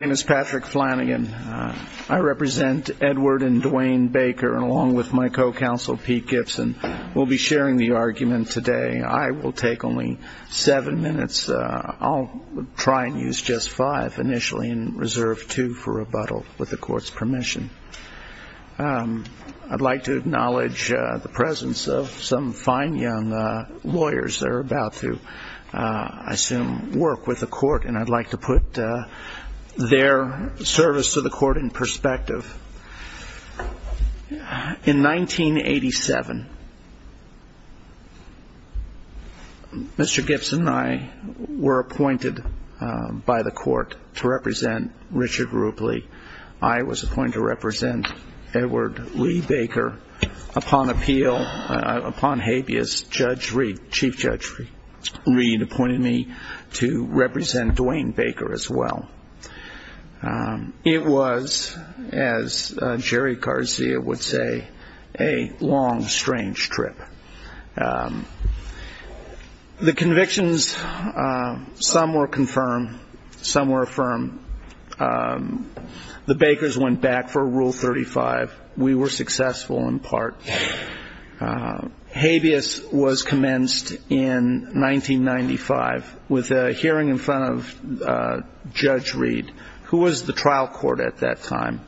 My name is Patrick Flanagan. I represent Edward and Dwayne Baker and along with my co-counsel Pete Gibson. We'll be sharing the argument today. I will take only seven minutes. I'll try and use just five initially and reserve two for rebuttal with the court's permission. I'd like to acknowledge the presence of some fine young lawyers that are about to, I assume, work with the court. And I'd like to put their service to the court in perspective. In 1987, Mr. Gibson and I were appointed by the court to represent Richard Rupley. I was appointed to represent Edward Lee Baker. Upon appeal, upon habeas, Judge Reed, Chief Judge Reed, appointed me to represent Dwayne Baker as well. It was, as Jerry Garcia would say, a long, strange trip. The convictions, some were confirmed, some were affirmed. The Bakers went back for Rule 35. We were successful in part. Habeas was commenced in 1995 with a hearing in front of Judge Reed, who was the trial court at that time.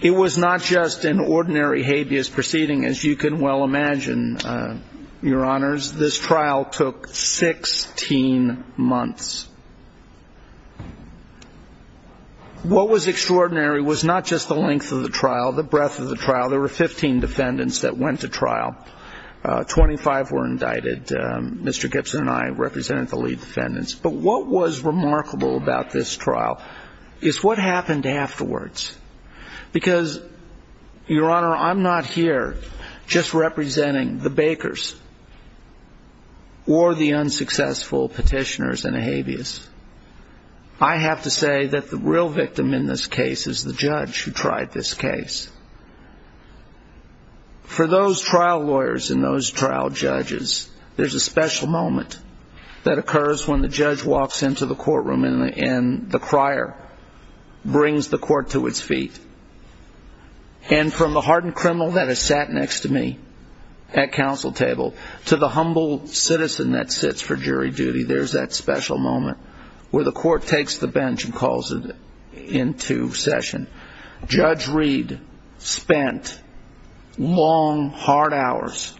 It was not just an ordinary habeas proceeding, as you can well imagine, Your Honors. This trial took 16 months. What was extraordinary was not just the length of the trial, the breadth of the trial. There were 15 defendants that went to trial. Twenty-five were indicted. Mr. Gibson and I represented the lead defendants. But what was remarkable about this trial is what happened afterwards. Because, Your Honor, I'm not here just representing the Bakers or the unsuccessful petitioners in a habeas. I have to say that the real victim in this case is the judge who tried this case. For those trial lawyers and those trial judges, there's a special moment that occurs when the judge walks into the courtroom and the crier brings the court to its feet. And from the hardened criminal that has sat next to me at counsel table to the humble citizen that sits for jury duty, there's that special moment where the court takes the bench and calls it into session. Judge Reed spent long, hard hours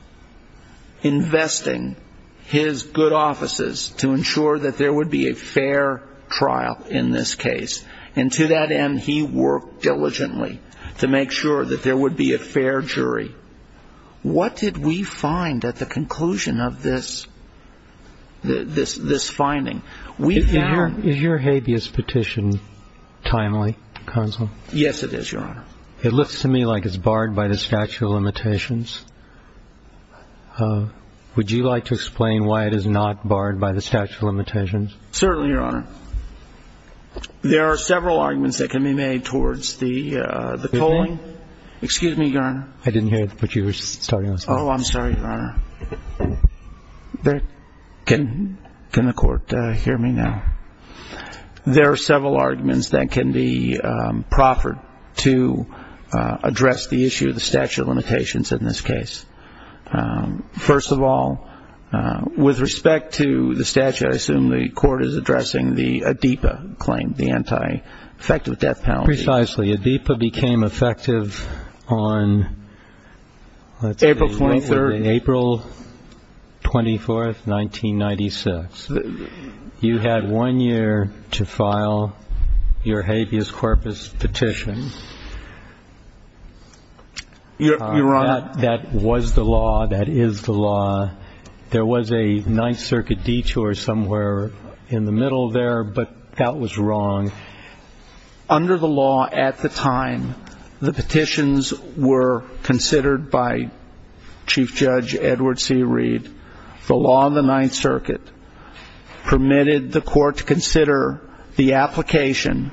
investing his good offices to ensure that there would be a fair trial in this case. And to that end, he worked diligently to make sure that there would be a fair jury. What did we find at the conclusion of this finding? Is your habeas petition timely, counsel? Yes, it is, Your Honor. It looks to me like it's barred by the statute of limitations. Would you like to explain why it is not barred by the statute of limitations? Certainly, Your Honor. There are several arguments that can be made towards the tolling. Excuse me, Your Honor. I didn't hear it, but you were starting on something. Oh, I'm sorry, Your Honor. Can the court hear me now? There are several arguments that can be proffered to address the issue of the statute of limitations in this case. First of all, with respect to the statute, I assume the court is addressing the ADEPA claim, the anti-effective death penalty. Precisely. The ADEPA became effective on, let's say, April 24th, 1996. You had one year to file your habeas corpus petition. Your Honor. That was the law. That is the law. There was a Ninth Circuit detour somewhere in the middle there, but that was wrong. Under the law at the time, the petitions were considered by Chief Judge Edward C. Reed. The law in the Ninth Circuit permitted the court to consider the application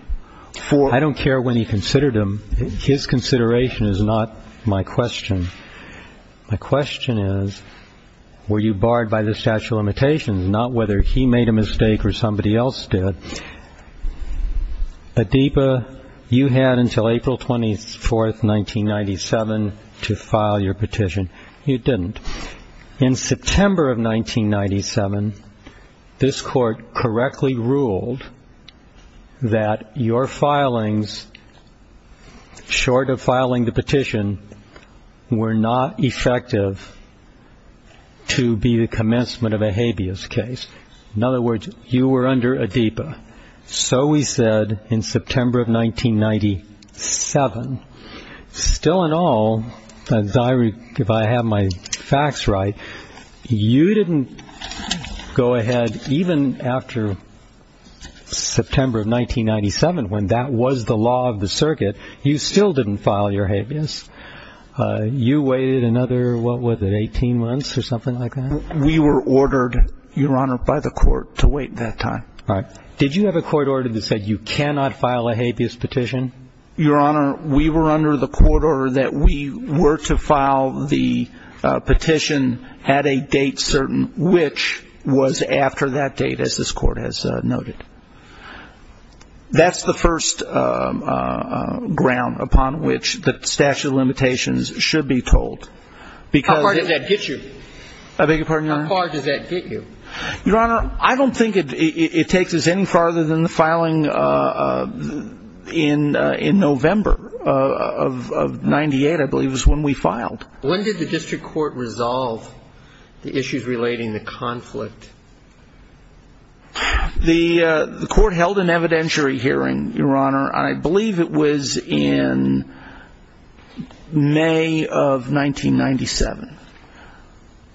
for... I don't care when he considered them. His consideration is not my question. My question is, were you barred by the statute of limitations? Not whether he made a mistake or somebody else did. ADEPA, you had until April 24th, 1997 to file your petition. You didn't. In September of 1997, this court correctly ruled that your filings, short of filing the petition, were not effective to be the commencement of a habeas case. In other words, you were under ADEPA. So we said in September of 1997. Still and all, if I have my facts right, you didn't go ahead even after September of 1997, when that was the law of the circuit, you still didn't file your habeas. You waited another, what was it, 18 months or something like that? We were ordered, Your Honor, by the court to wait that time. All right. Did you have a court order that said you cannot file a habeas petition? Your Honor, we were under the court order that we were to file the petition at a date certain, which was after that date, as this court has noted. That's the first ground upon which the statute of limitations should be told. How far does that get you? I beg your pardon, Your Honor? How far does that get you? Your Honor, I don't think it takes us any farther than the filing in November of 98, I believe, is when we filed. When did the district court resolve the issues relating to conflict? The court held an evidentiary hearing, Your Honor, and I believe it was in May of 1997.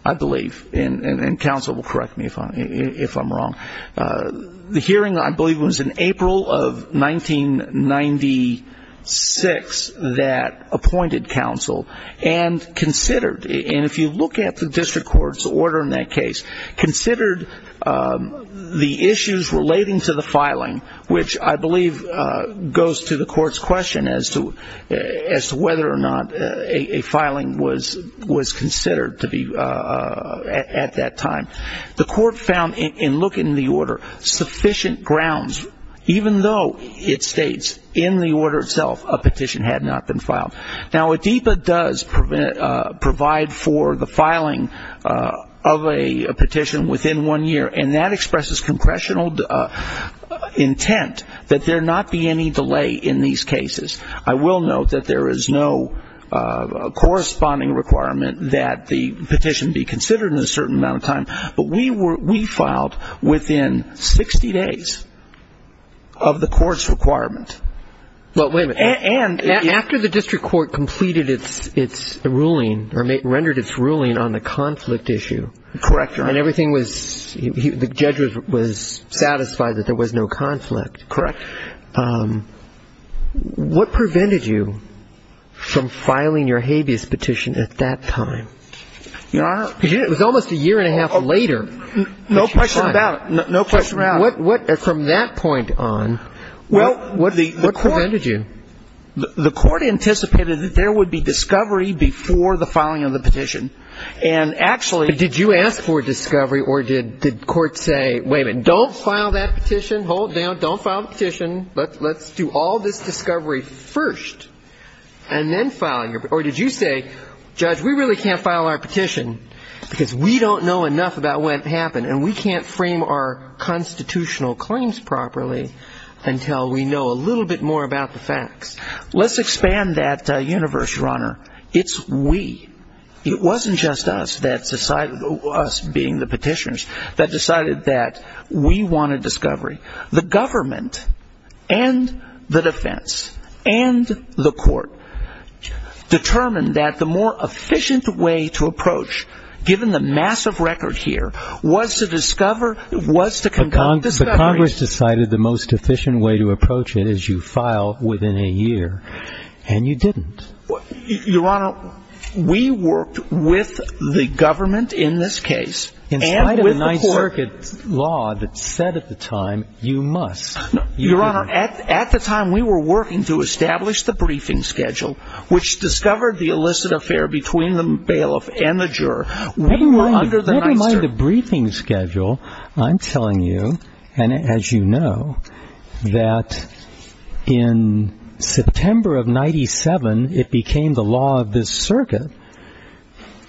I believe, and counsel will correct me if I'm wrong. The hearing, I believe, was in April of 1996 that appointed counsel and considered, and if you look at the district court's order in that case, considered the issues relating to the filing, which I believe goes to the court's question as to whether or not a filing was considered to be at that time. The court found, in looking at the order, sufficient grounds, even though it states in the order itself a petition had not been filed. Now, ADEPA does provide for the filing of a petition within one year, and that expresses congressional intent that there not be any delay in these cases. I will note that there is no corresponding requirement that the petition be considered in a certain amount of time, but we filed within 60 days of the court's requirement. Well, wait a minute. After the district court completed its ruling or rendered its ruling on the conflict issue. Correct, Your Honor. And everything was, the judge was satisfied that there was no conflict. Correct. What prevented you from filing your habeas petition at that time? Your Honor. It was almost a year and a half later. No question about it. No question about it. From that point on, what prevented you? The court anticipated that there would be discovery before the filing of the petition. And actually. But did you ask for discovery or did court say, wait a minute, don't file that petition, hold down, don't file the petition, let's do all this discovery first, and then file your, or did you say, judge, we really can't file our petition, because we don't know enough about what happened, and we can't frame our constitutional claims properly until we know a little bit more about the facts. Let's expand that universe, Your Honor. It's we. It wasn't just us that decided, us being the petitioners, that decided that we wanted discovery. The government and the defense and the court determined that the more efficient way to approach, given the massive record here, was to discover, was to conduct discovery. The Congress decided the most efficient way to approach it is you file within a year. And you didn't. Your Honor, we worked with the government in this case. In spite of the Ninth Circuit law that said at the time, you must. Your Honor, at the time we were working to establish the briefing schedule, which discovered the illicit affair between the bailiff and the juror. Never mind the briefing schedule. I'm telling you, and as you know, that in September of 1997, it became the law of this circuit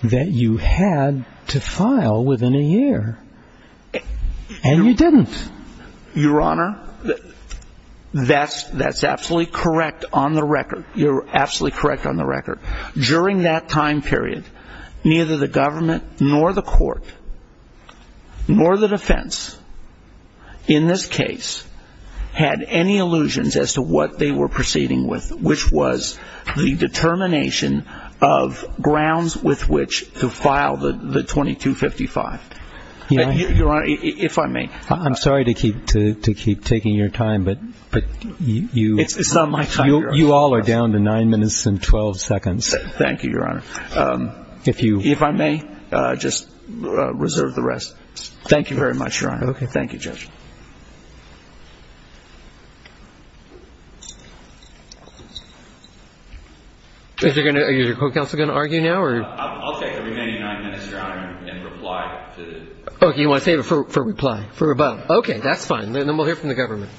that you had to file within a year. And you didn't. Your Honor, that's absolutely correct on the record. You're absolutely correct on the record. During that time period, neither the government nor the court nor the defense in this case had any illusions as to what they were proceeding with, which was the determination of grounds with which to file the 2255. Your Honor, if I may. I'm sorry to keep taking your time, but you all are down to nine minutes and 12 seconds. Thank you, Your Honor. If I may, just reserve the rest. Thank you very much, Your Honor. Thank you, Judge. Is your court counsel going to argue now? I'll take the remaining nine minutes, Your Honor, and reply. Okay, you want to save it for reply, for rebuttal. Okay, that's fine. Then we'll hear from the government.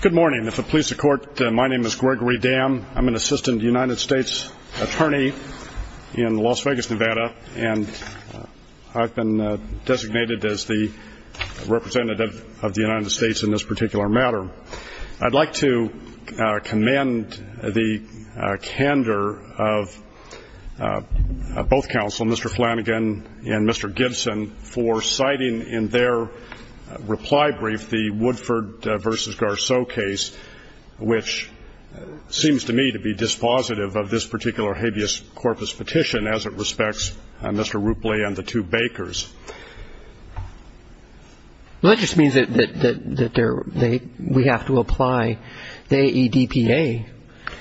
Good morning. If it pleases the Court, my name is Gregory Dam. I'm an assistant United States attorney in Las Vegas, Nevada, and I've been designated as the representative of the United States in this particular matter. I'd like to commend the candor of both counsel, Mr. Flanagan and Mr. Gibson, for citing in their reply brief the Woodford v. Garceau case, which seems to me to be dispositive of this particular habeas corpus petition as it respects Mr. Roopley and the two Bakers. Well, that just means that we have to apply the AEDPA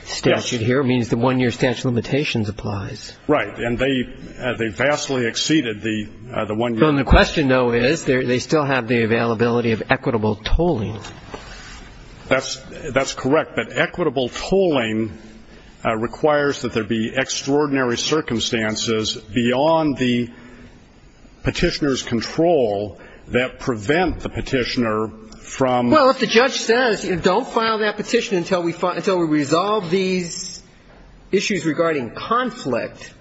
statute here. It means the one-year statute of limitations applies. Right. And they vastly exceeded the one-year. The question, though, is they still have the availability of equitable tolling. That's correct. But equitable tolling requires that there be extraordinary circumstances beyond the Petitioner's control that prevent the Petitioner from. Well, if the judge says don't file that petition until we resolve these issues regarding conflict,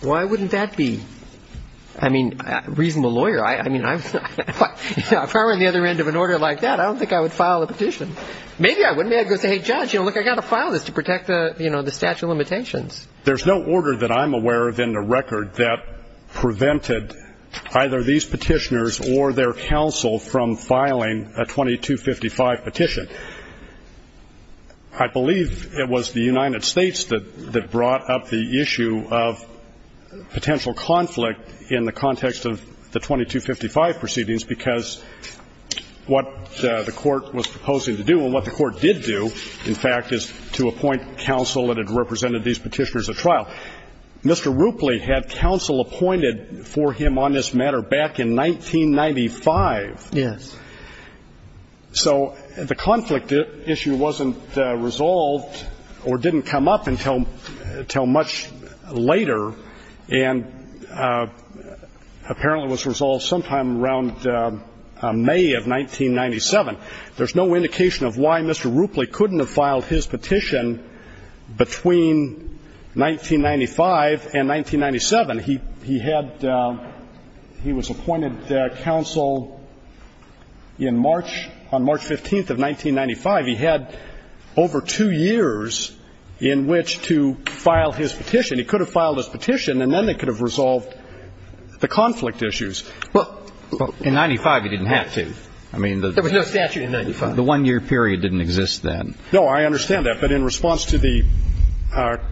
why wouldn't that be? I mean, a reasonable lawyer. I mean, if I were on the other end of an order like that, I don't think I would file a petition. Maybe I wouldn't. Maybe I'd go say, hey, judge, look, I've got to file this to protect the statute of limitations. There's no order that I'm aware of in the record that prevented either these Petitioners or their counsel from filing a 2255 petition. I believe it was the United States that brought up the issue of potential conflict in the context of the 2255 proceedings, because what the court was proposing to do and what the court did do, in fact, is to appoint counsel that had represented these Petitioners at trial. Mr. Rupley had counsel appointed for him on this matter back in 1995. Yes. So the conflict issue wasn't resolved or didn't come up until much later and apparently was resolved sometime around May of 1997. There's no indication of why Mr. Rupley couldn't have filed his petition between 1995 and 1997. He had he was appointed counsel in March, on March 15th of 1995. He had over two years in which to file his petition. He could have filed his petition and then they could have resolved the conflict issues. Well, in 95 he didn't have to. There was no statute in 95. The one-year period didn't exist then. No, I understand that. But in response to the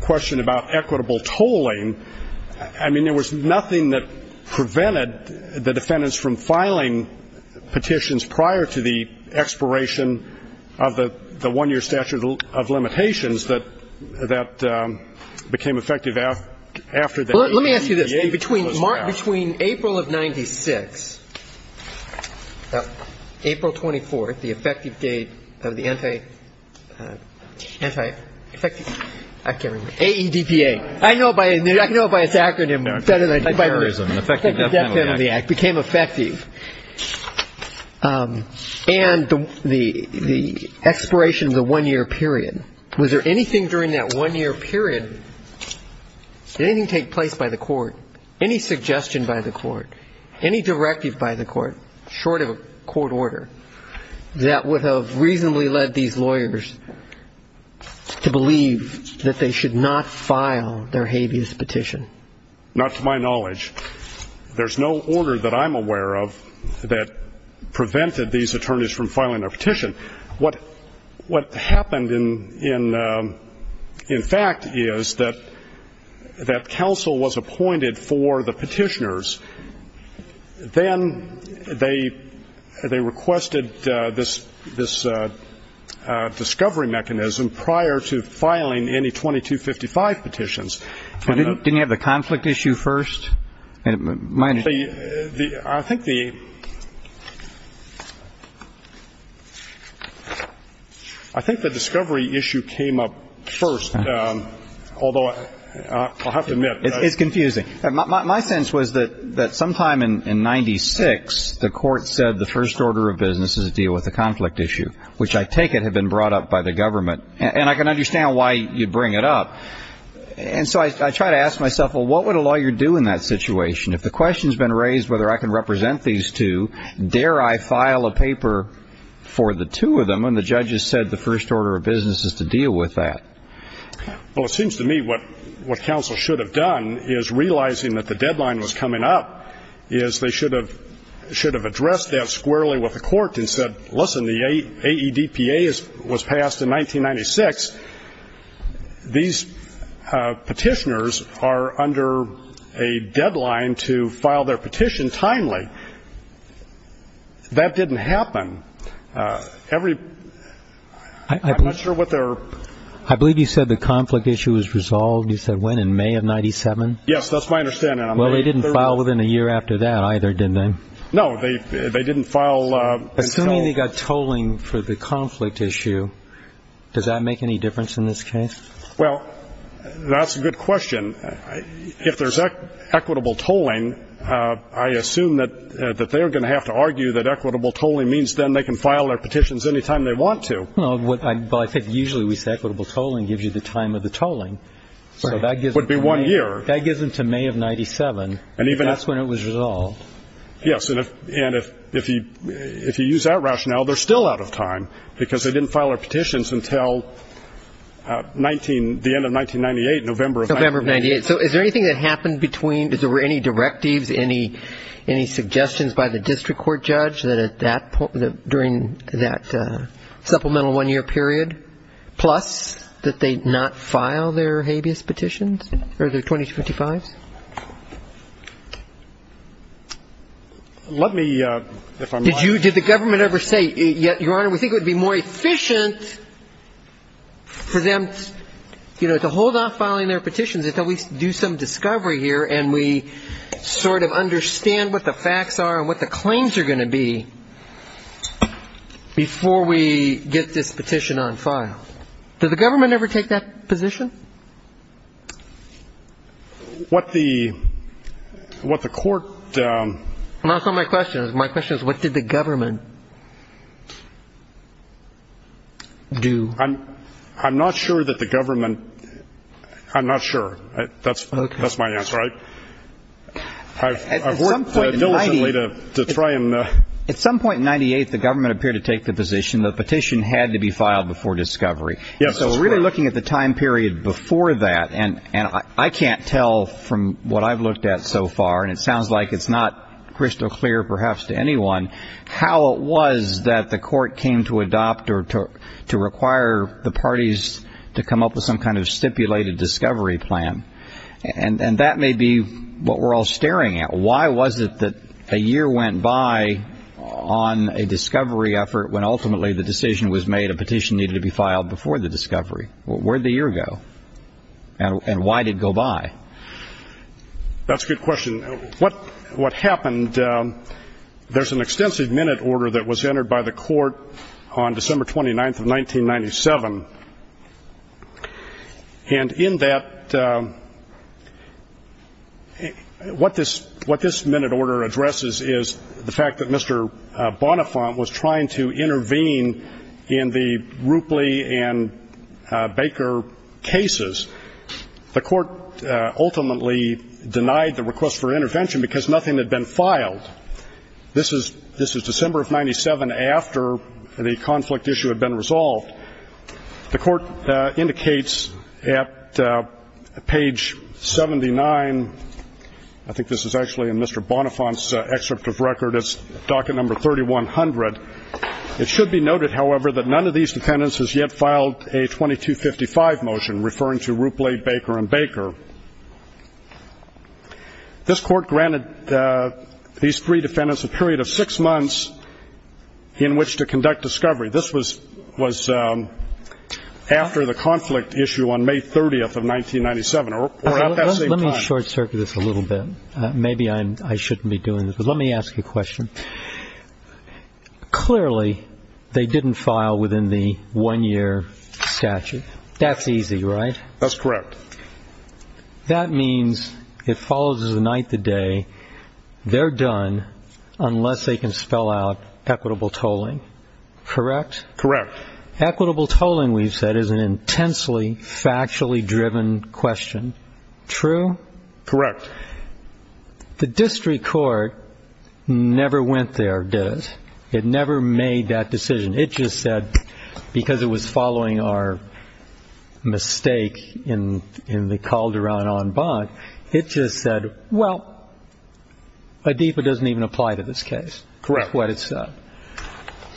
question about equitable tolling, I mean, there was nothing that prevented the defendants from filing petitions prior to the expiration of the one-year statute of limitations that became effective after that. Well, let me ask you this. Between April of 96, April 24th, the effective date of the Anti-AEDPA. I know it by its acronym. It became effective. And the expiration of the one-year period, was there anything during that one-year period, did anything take place by the court, any suggestion by the court, any directive by the court short of a court order that would have reasonably led these lawyers to believe that they should not file their habeas petition? Not to my knowledge. There's no order that I'm aware of that prevented these attorneys from filing their petition. What happened, in fact, is that counsel was appointed for the petitioners. Then they requested this discovery mechanism prior to filing any 2255 petitions. Didn't you have the conflict issue first? I think the discovery issue came up first, although I'll have to admit. It's confusing. My sense was that sometime in 96, the court said the first order of business is to deal with the conflict issue, which I take it had been brought up by the government. And I can understand why you'd bring it up. And so I try to ask myself, well, what would a lawyer do in that situation? If the question's been raised whether I can represent these two, dare I file a paper for the two of them when the judge has said the first order of business is to deal with that? Well, it seems to me what counsel should have done is, realizing that the deadline was coming up, is they should have addressed that squarely with the court and said, listen, the AEDPA was passed in 1996. These petitioners are under a deadline to file their petition timely. That didn't happen. I'm not sure what their ---- I believe you said the conflict issue was resolved, you said, when, in May of 97? Yes, that's my understanding. Well, they didn't file within a year after that either, did they? No, they didn't file until ---- Well, that's a good question. If there's equitable tolling, I assume that they're going to have to argue that equitable tolling means then they can file their petitions any time they want to. Well, I think usually we say equitable tolling gives you the time of the tolling. So that gives them to May of 97. That's when it was resolved. Yes, and if you use that rationale, they're still out of time, because they didn't file their petitions until the end of 1998, November of 98. So is there anything that happened between, is there any directives, any suggestions by the district court judge that at that point, during that supplemental one-year period, plus that they not file their habeas petitions, or their 2255s? Let me, if I'm right. Did you, did the government ever say, Your Honor, we think it would be more efficient for them to hold off filing their petitions until we do some discovery here and we sort of understand what the facts are and what the claims are going to be before we get this petition on file? Did the government ever take that position? What the court. That's not my question. My question is what did the government do? I'm not sure that the government, I'm not sure. That's my answer. I've worked diligently to try and. At some point in 98, the government appeared to take the position the petition had to be filed before discovery. So we're really looking at the time period before that, and I can't tell from what I've looked at so far, and it sounds like it's not crystal clear perhaps to anyone, how it was that the court came to adopt or to require the parties to come up with some kind of stipulated discovery plan. And that may be what we're all staring at. Why was it that a year went by on a discovery effort when ultimately the decision was made a petition needed to be filed before the discovery? Where did the year go? And why did it go by? That's a good question. What happened, there's an extensive minute order that was entered by the court on December 29th of 1997, and in that, what this minute order addresses is the fact that Mr. Bonifant was trying to intervene in the Roopley and Baker cases. The court ultimately denied the request for intervention because nothing had been filed. This is December of 97 after the conflict issue had been resolved. The court indicates at page 79, I think this is actually in Mr. Bonifant's excerpt of record, it's docket number 3100, it should be noted, however, that none of these defendants has yet filed a 2255 motion referring to Roopley, Baker, and Baker. This court granted these three defendants a period of six months in which to conduct discovery. This was after the conflict issue on May 30th of 1997, or at that same time. Let me short-circuit this a little bit. Maybe I shouldn't be doing this, but let me ask you a question. Clearly, they didn't file within the one-year statute. That's easy, right? That's correct. That means it follows as the night, the day, they're done unless they can spell out equitable tolling, correct? Correct. Equitable tolling, we've said, is an intensely factually driven question. True? Correct. The district court never went there, did it? It never made that decision. It just said, because it was following our mistake in the Calderon en banc, it just said, well, ADIPA doesn't even apply to this case. Correct. That's what it said.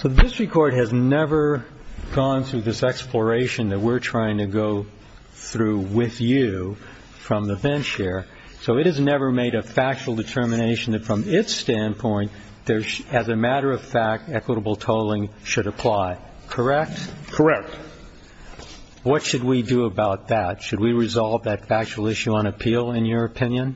So the district court has never gone through this exploration that we're trying to go through with you from the bench here. So it has never made a factual determination that from its standpoint, as a matter of fact, equitable tolling should apply. Correct? Correct. What should we do about that? Should we resolve that factual issue on appeal, in your opinion?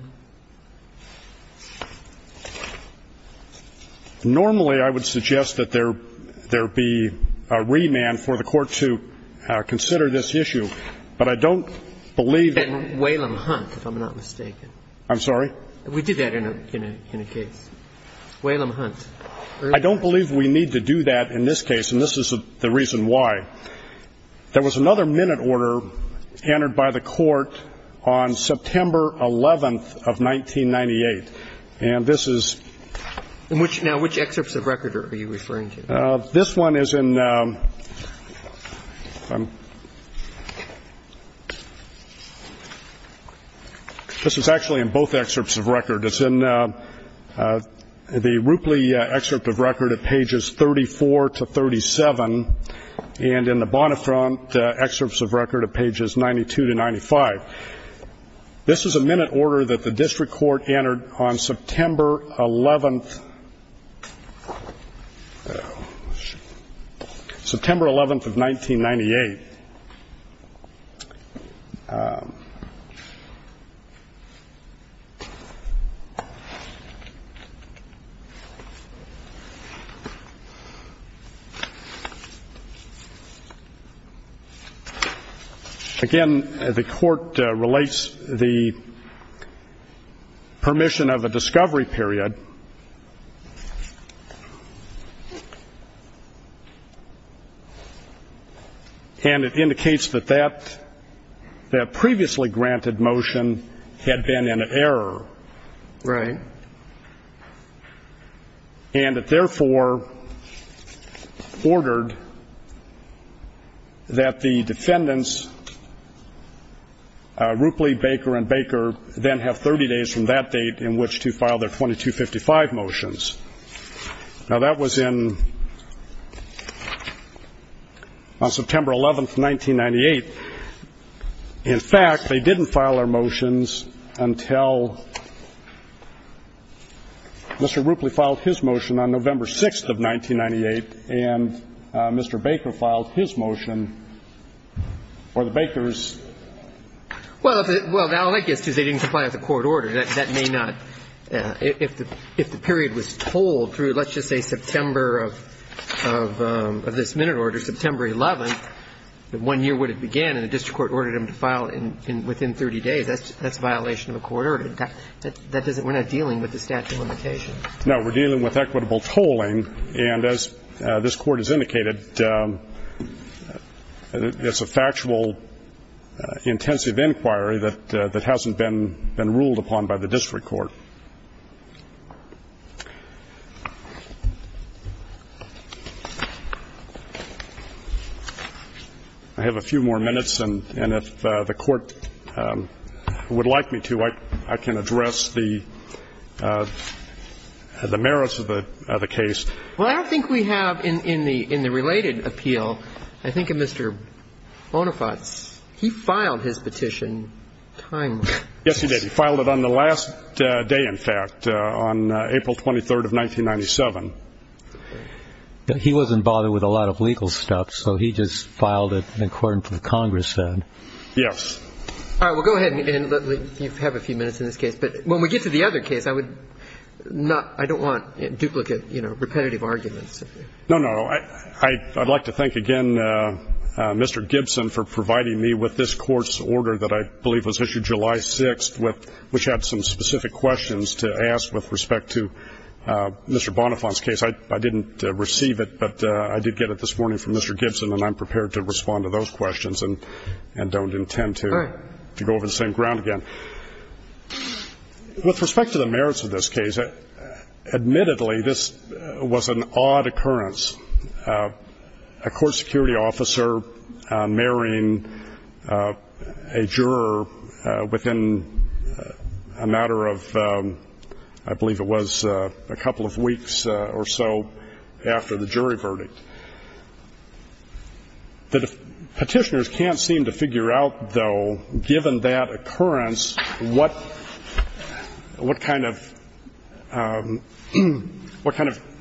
Normally, I would suggest that there be a remand for the court to consider this issue. But I don't believe that. And Waylon Hunt, if I'm not mistaken. I'm sorry? We did that in a case. Waylon Hunt. I don't believe we need to do that in this case, and this is the reason why. There was another minute order entered by the court on September 11th of 1998, and this is... Now, which excerpts of record are you referring to? This one is in... This is actually in both excerpts of record. It's in the Roopley excerpt of record at pages 34 to 37, and in the Bonnetfront excerpts of record at pages 92 to 95. This is a minute order that the district court entered on September 11th... September 11th of 1998. Again, the court relates the permission of a discovery period. And it indicates that that previously granted motion had been an error. Right. And it therefore ordered that the defendants, Roopley, Baker, and Baker, then have 30 days from that date in which to file their 2255 motions. Now, that was in... on September 11th, 1998. In fact, they didn't file their motions until Mr. Roopley filed his motion on November 6th of 1998, and Mr. Baker filed his motion, or the Baker's... Well, now all that gets to is they didn't comply with the court order. That may not... If the period was told through, let's just say, September of this minute order, September 11th, that one year would have began, and the district court ordered them to file within 30 days, that's a violation of a court order. We're not dealing with the statute of limitations. No, we're dealing with equitable tolling. And as this court has indicated, it's a factual, intensive inquiry that hasn't been ruled upon by the district court. I have a few more minutes, and if the Court would like me to, I can address the merits of the case. Well, I don't think we have in the related appeal. I think Mr. Bonifaz, he filed his petition timely. Yes, he did. He filed it on the last day, in fact, on April 23rd of 1997. He wasn't bothered with a lot of legal stuff, so he just filed it according to the Congress then. Yes. All right. Well, go ahead, and you have a few minutes in this case. But when we get to the other case, I would not... I don't want duplicate, you know, repetitive arguments. No, no. I'd like to thank again Mr. Gibson for providing me with this Court's order that I believe was issued July 6th, which had some specific questions to ask with respect to Mr. Bonifaz's case. I didn't receive it, but I did get it this morning from Mr. Gibson, and I'm prepared to respond to those questions and don't intend to go over the same ground again. All right. Admittedly, this was an odd occurrence, a court security officer marrying a juror within a matter of, I believe it was a couple of weeks or so after the jury verdict. Petitioners can't seem to figure out, though, given that occurrence, what kind of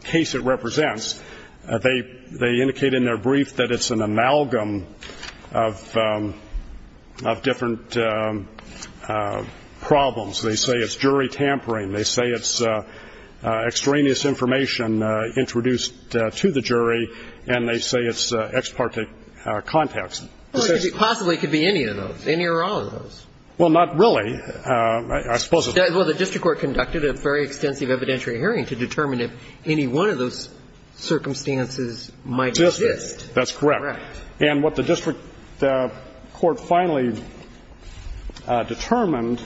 case it represents. They indicate in their brief that it's an amalgam of different problems. They say it's jury tampering. They say it's extraneous information introduced to the jury, and they say it's ex parte contacts. Possibly it could be any of those, any or all of those. Well, not really. I suppose it's not. Well, the district court conducted a very extensive evidentiary hearing to determine if any one of those circumstances might exist. That's correct. Correct. And what the district court finally determined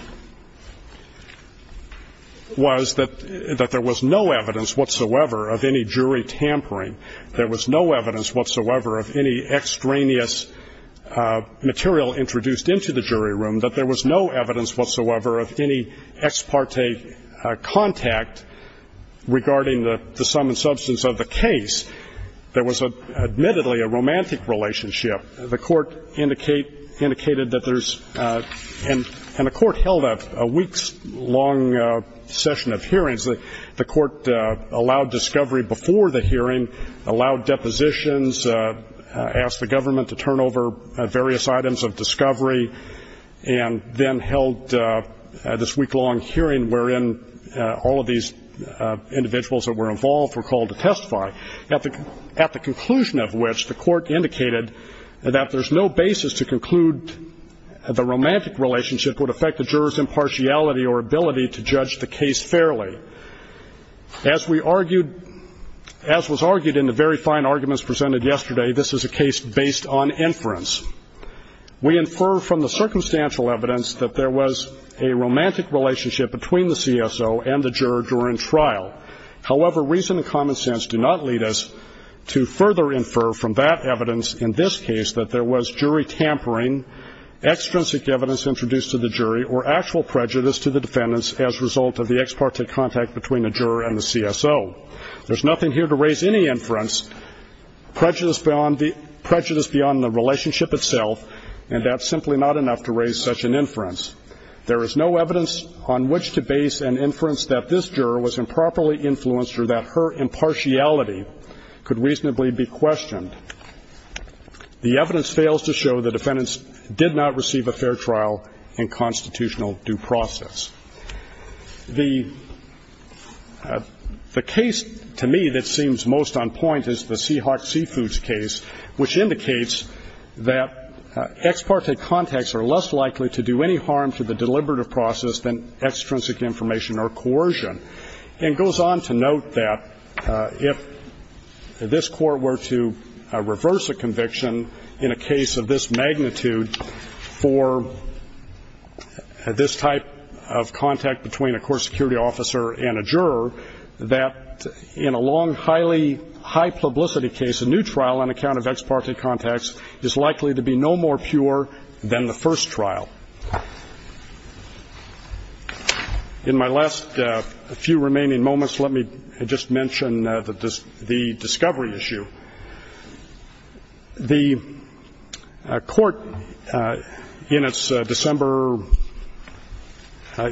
was that there was no evidence whatsoever of any jury tampering. There was no evidence whatsoever of any extraneous material introduced into the jury room, that there was no evidence whatsoever of any ex parte contact regarding the sum and substance of the case. There was admittedly a romantic relationship. The court indicated that there's and the court held a week's long session of hearings. The court allowed discovery before the hearing, allowed depositions, asked the government to turn over various items of discovery, and then held this week-long hearing wherein all of these individuals that were involved were called to testify. At the conclusion of which, the court indicated that there's no basis to conclude the romantic relationship would affect the juror's impartiality or ability to judge the case fairly. As we argued, as was argued in the very fine arguments presented yesterday, this is a case based on inference. We infer from the circumstantial evidence that there was a romantic relationship between the CSO and the juror during trial. However, reason and common sense do not lead us to further infer from that evidence in this case that there was jury tampering, extrinsic evidence introduced to the jury, or actual prejudice to the defendants as a result of the ex parte contact between the juror and the CSO. There's nothing here to raise any inference, prejudice beyond the relationship itself, and that's simply not enough to raise such an inference. There is no evidence on which to base an inference that this juror was improperly influenced or that her impartiality could reasonably be questioned. The evidence fails to show the defendants did not receive a fair trial in constitutional due process. The case to me that seems most on point is the Seahawk Seafoods case, which indicates that ex parte contacts are less likely to do any harm to the deliberative process than extrinsic information or coercion. And it goes on to note that if this court were to reverse a conviction in a case of this magnitude for this type of contact between a core security officer and a juror, that in a long, highly high-publicity case, a new trial on account of ex parte contacts is likely to be no more pure than the first trial. In my last few remaining moments, let me just mention the discovery issue. The court in its December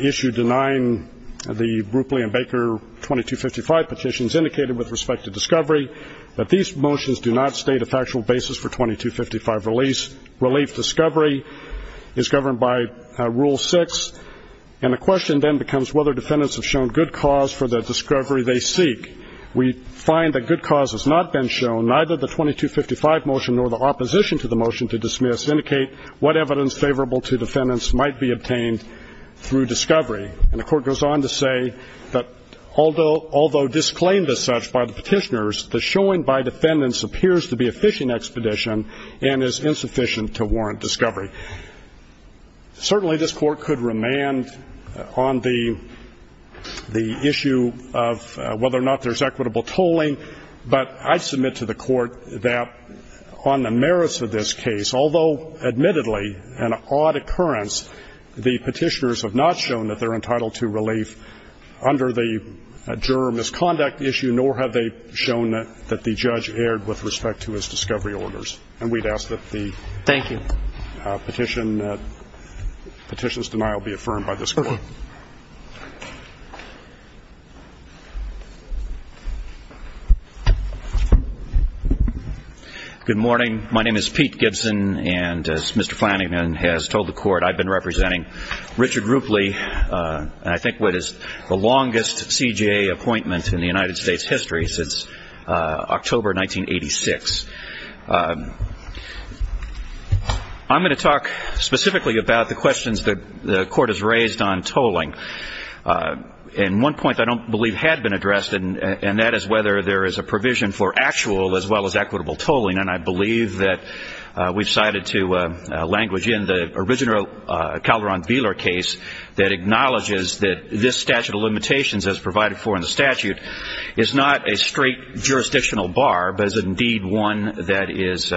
issue denying the Rupley and Baker 2255 petitions indicated with respect to discovery that these motions do not state a factual basis for 2255 release. Relief discovery is governed by Rule 6, and the question then becomes whether defendants have shown good cause for the discovery they seek. We find that good cause has not been shown. Neither the 2255 motion nor the opposition to the motion to dismiss indicate what evidence favorable to defendants might be obtained through discovery. And the court goes on to say that although disclaimed as such by the petitioners, the showing by defendants appears to be a fishing expedition and is insufficient to warrant discovery. Certainly, this Court could remand on the issue of whether or not there's equitable tolling, but I submit to the Court that on the merits of this case, although admittedly an odd occurrence, the petitioners have not shown that they're entitled to relief under the juror misconduct issue, nor have they shown that the judge erred with respect to his discovery orders. And we'd ask that the petition's denial be affirmed by this Court. Okay. Good morning. My name is Pete Gibson, and as Mr. Flanagan has told the Court, I've been representing Richard Rupley, and I think what is the longest CJA appointment in the United States history since October 1986. I'm going to talk specifically about the questions that the Court has raised on tolling. And one point I don't believe had been addressed, and that is whether there is a provision for actual as well as equitable tolling. And I believe that we've cited to language in the original Calderon-Beeler case that acknowledges that this statute of limitations as provided for in the statute is not a straight jurisdictional bar, but is indeed one that is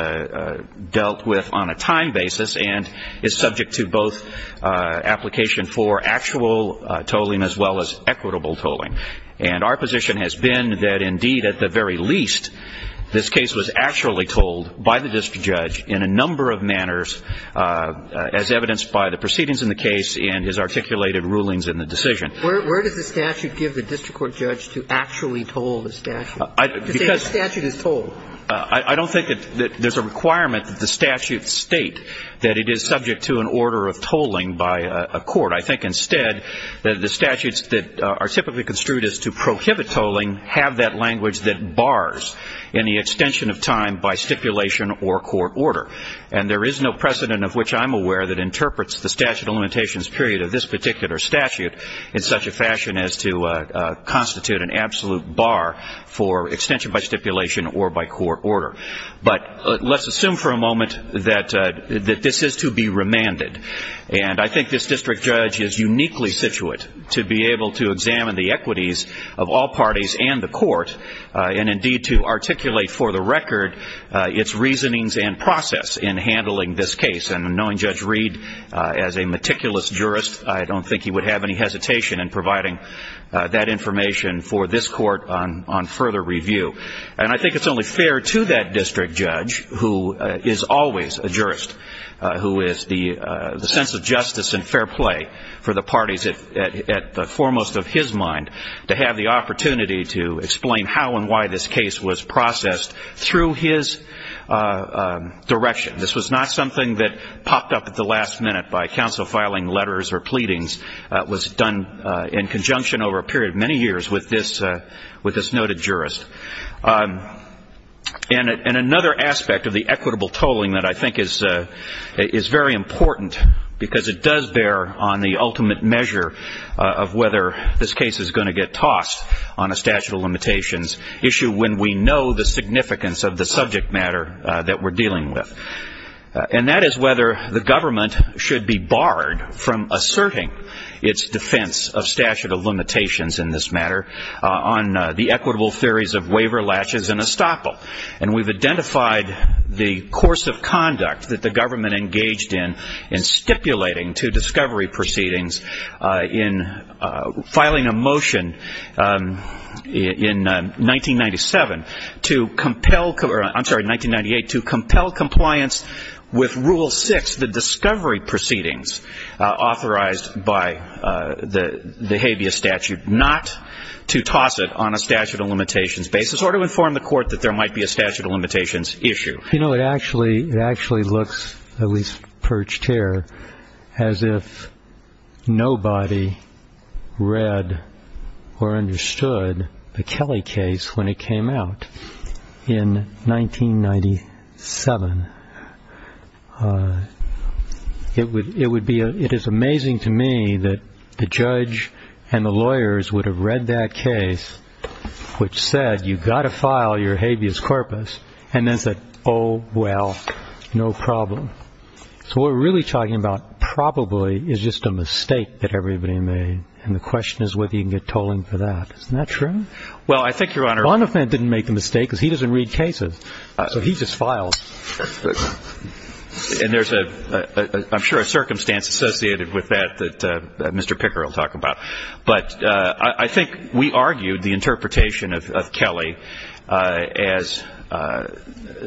dealt with on a time basis and is subject to both application for actual tolling as well as equitable tolling. And our position has been that, indeed, at the very least, this case was actually told by the district judge in a number of manners, as evidenced by the proceedings in the case and his articulated rulings in the decision. Where does the statute give the district court judge to actually toll the statute, to say the statute is tolled? I don't think that there's a requirement that the statute state that it is subject to an order of tolling by a court. I think instead that the statutes that are typically construed as to prohibit tolling have that language that bars any extension of time by stipulation or court order. And there is no precedent of which I'm aware that interprets the statute of limitations period of this particular statute in such a fashion as to constitute an absolute bar for extension by stipulation or by court order. But let's assume for a moment that this is to be remanded. And I think this district judge is uniquely situated to be able to examine the equities of all parties and the court and, indeed, to articulate for the record its reasonings and process in handling this case and knowing Judge Reed as a meticulous jurist, I don't think he would have any hesitation in providing that information for this court on further review. And I think it's only fair to that district judge, who is always a jurist, who is the sense of justice and fair play for the parties at the foremost of his mind, to have the opportunity to explain how and why this case was processed through his direction. This was not something that popped up at the last minute by counsel filing letters or pleadings. It was done in conjunction over a period of many years with this noted jurist. And another aspect of the equitable tolling that I think is very important, because it does bear on the ultimate measure of whether this case is going to get tossed on a statute of limitations, issue when we know the significance of the subject matter that we're dealing with. And that is whether the government should be barred from asserting its defense of statute of limitations in this matter on the equitable theories of waiver, latches, and estoppel. And we've identified the course of conduct that the government engaged in to discovery proceedings in filing a motion in 1997 to compel or I'm sorry, 1998, to compel compliance with Rule 6, the discovery proceedings authorized by the habeas statute, not to toss it on a statute of limitations basis or to inform the court that there might be a statute of limitations issue. You know, it actually looks, at least perched here, as if nobody read or understood the Kelly case when it came out in 1997. It is amazing to me that the judge and the lawyers would have read that case, which said you've got to file your habeas corpus, and then said, oh, well, no problem. So what we're really talking about probably is just a mistake that everybody made, and the question is whether you can get tolling for that. Isn't that true? Well, I think, Your Honor. Bonifant didn't make the mistake, because he doesn't read cases, so he just filed. And there's, I'm sure, a circumstance associated with that that Mr. Picker will talk about. But I think we argued the interpretation of Kelly as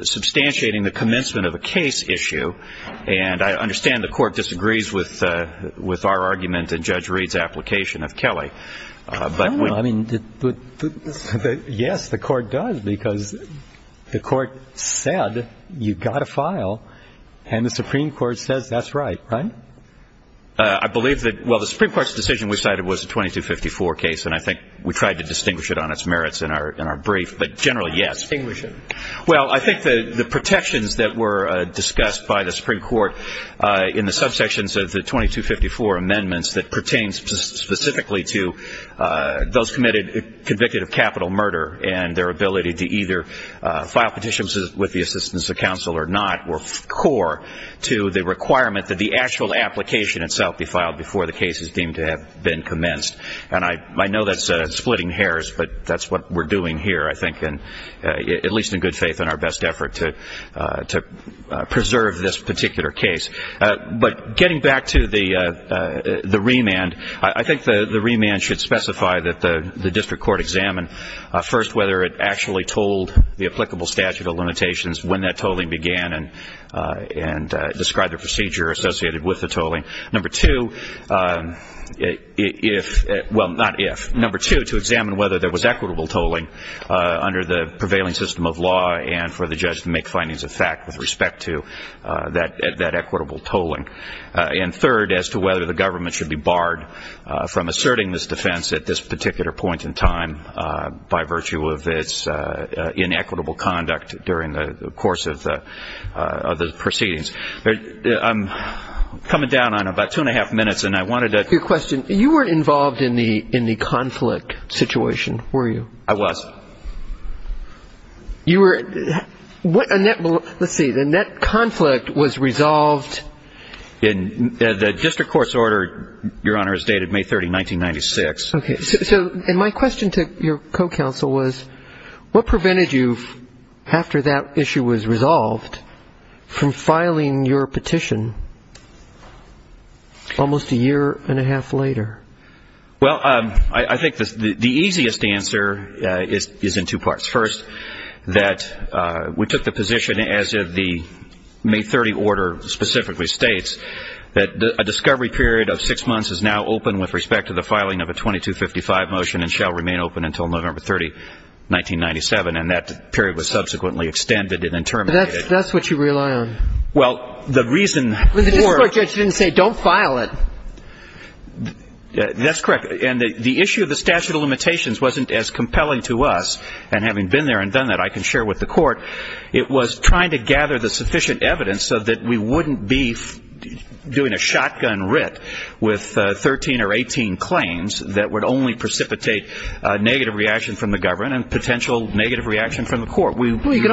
substantiating the commencement of a case issue, and I understand the court disagrees with our argument and Judge Reed's application of Kelly. But we don't know. I mean, yes, the court does, because the court said you've got to file, and the Supreme Court says that's right, right? I believe that, well, the Supreme Court's decision we cited was a 2254 case, and I think we tried to distinguish it on its merits in our brief, but generally, yes. Distinguish it? Well, I think the protections that were discussed by the Supreme Court in the subsections of the 2254 amendments that pertain specifically to those convicted of capital murder and their ability to either file petitions with the assistance of counsel or not were core to the requirement that the actual application itself be filed before the case is deemed to have been commenced. And I know that's splitting hairs, but that's what we're doing here, I think, at least in good faith in our best effort to preserve this particular case. But getting back to the remand, I think the remand should specify that the district court examine first whether it actually told the applicable statute of limitations when that tolling began and describe the procedure associated with the tolling. Number two, if, well, not if. Number two, to examine whether there was equitable tolling under the prevailing system of law and for the judge to make findings of fact with respect to that equitable tolling. And third, as to whether the government should be barred from asserting this defense at this particular point in time by virtue of its inequitable conduct during the course of the proceedings. I'm coming down on about two and a half minutes, and I wanted to ask you a question. You weren't involved in the conflict situation, were you? I was. You were? Let's see, the net conflict was resolved? The district court's order, Your Honor, is dated May 30, 1996. Okay. And my question to your co-counsel was what prevented you, after that issue was resolved, from filing your petition almost a year and a half later? Well, I think the easiest answer is in two parts. First, that we took the position, as the May 30 order specifically states, that a discovery period of six months is now open with respect to the filing of a 2255 motion and shall remain open until November 30, 1997. And that period was subsequently extended and then terminated. But that's what you rely on. Well, the reason for the court didn't say don't file it. That's correct. And the issue of the statute of limitations wasn't as compelling to us. And having been there and done that, I can share with the Court, it was trying to gather the sufficient evidence so that we wouldn't be doing a shotgun writ with 13 or 18 claims that would only precipitate negative reaction from the government and potential negative reaction from the Court. Well, you can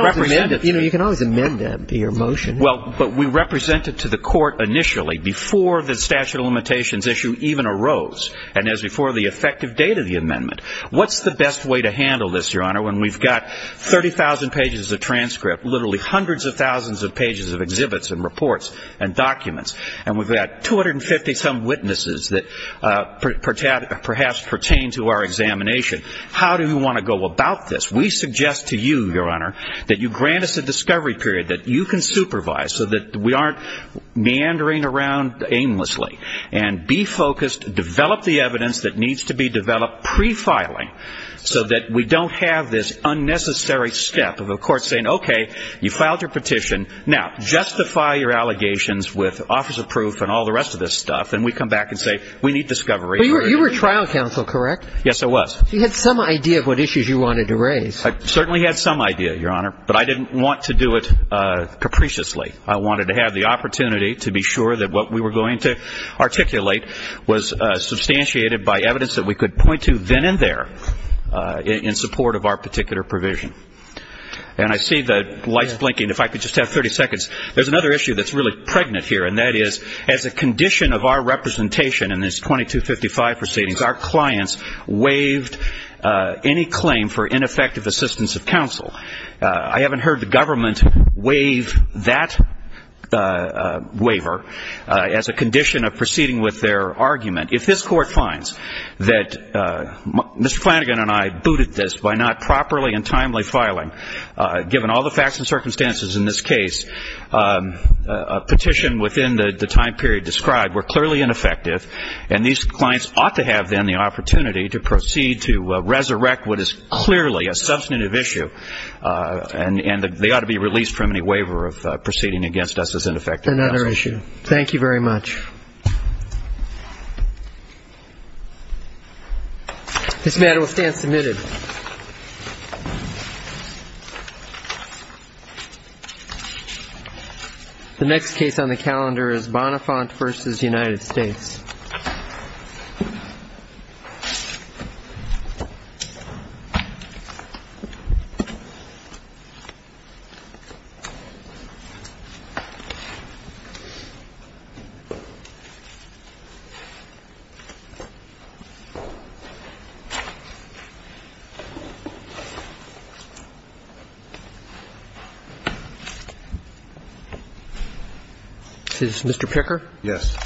always amend that, your motion. Well, but we represented to the Court initially before the statute of limitations issue even arose and as before the effective date of the amendment. What's the best way to handle this, your Honor, when we've got 30,000 pages of transcript, literally hundreds of thousands of pages of exhibits and reports and documents, and we've got 250-some witnesses that perhaps pertain to our examination? How do we want to go about this? We suggest to you, your Honor, that you grant us a discovery period that you can supervise so that we aren't meandering around aimlessly and be focused, develop the evidence that needs to be developed pre-filing so that we don't have this unnecessary step of a Court saying, okay, you filed your petition, now justify your allegations with office of proof and all the rest of this stuff, and we come back and say, we need discovery. You were trial counsel, correct? Yes, I was. You had some idea of what issues you wanted to raise. I certainly had some idea, your Honor, but I didn't want to do it capriciously. I wanted to have the opportunity to be sure that what we were going to articulate was substantiated by evidence that we could point to then and there in support of our particular provision. And I see the lights blinking. If I could just have 30 seconds. There's another issue that's really pregnant here, and that is as a condition of our representation in this 2255 proceedings, our clients waived any claim for ineffective assistance of counsel. I haven't heard the government waive that waiver as a condition of proceeding with their argument. If this Court finds that Mr. Flanagan and I booted this by not properly and timely filing, given all the facts and circumstances in this case, a petition within the time period described were clearly ineffective, and these clients ought to have then the opportunity to proceed to resurrect what is clearly a substantive issue, and they ought to be released from any waiver of proceeding against us as ineffective counsel. Another issue. Thank you very much. This matter will stand submitted. The next case on the calendar is Bonafant v. United States. Is this Mr. Picker? Yes.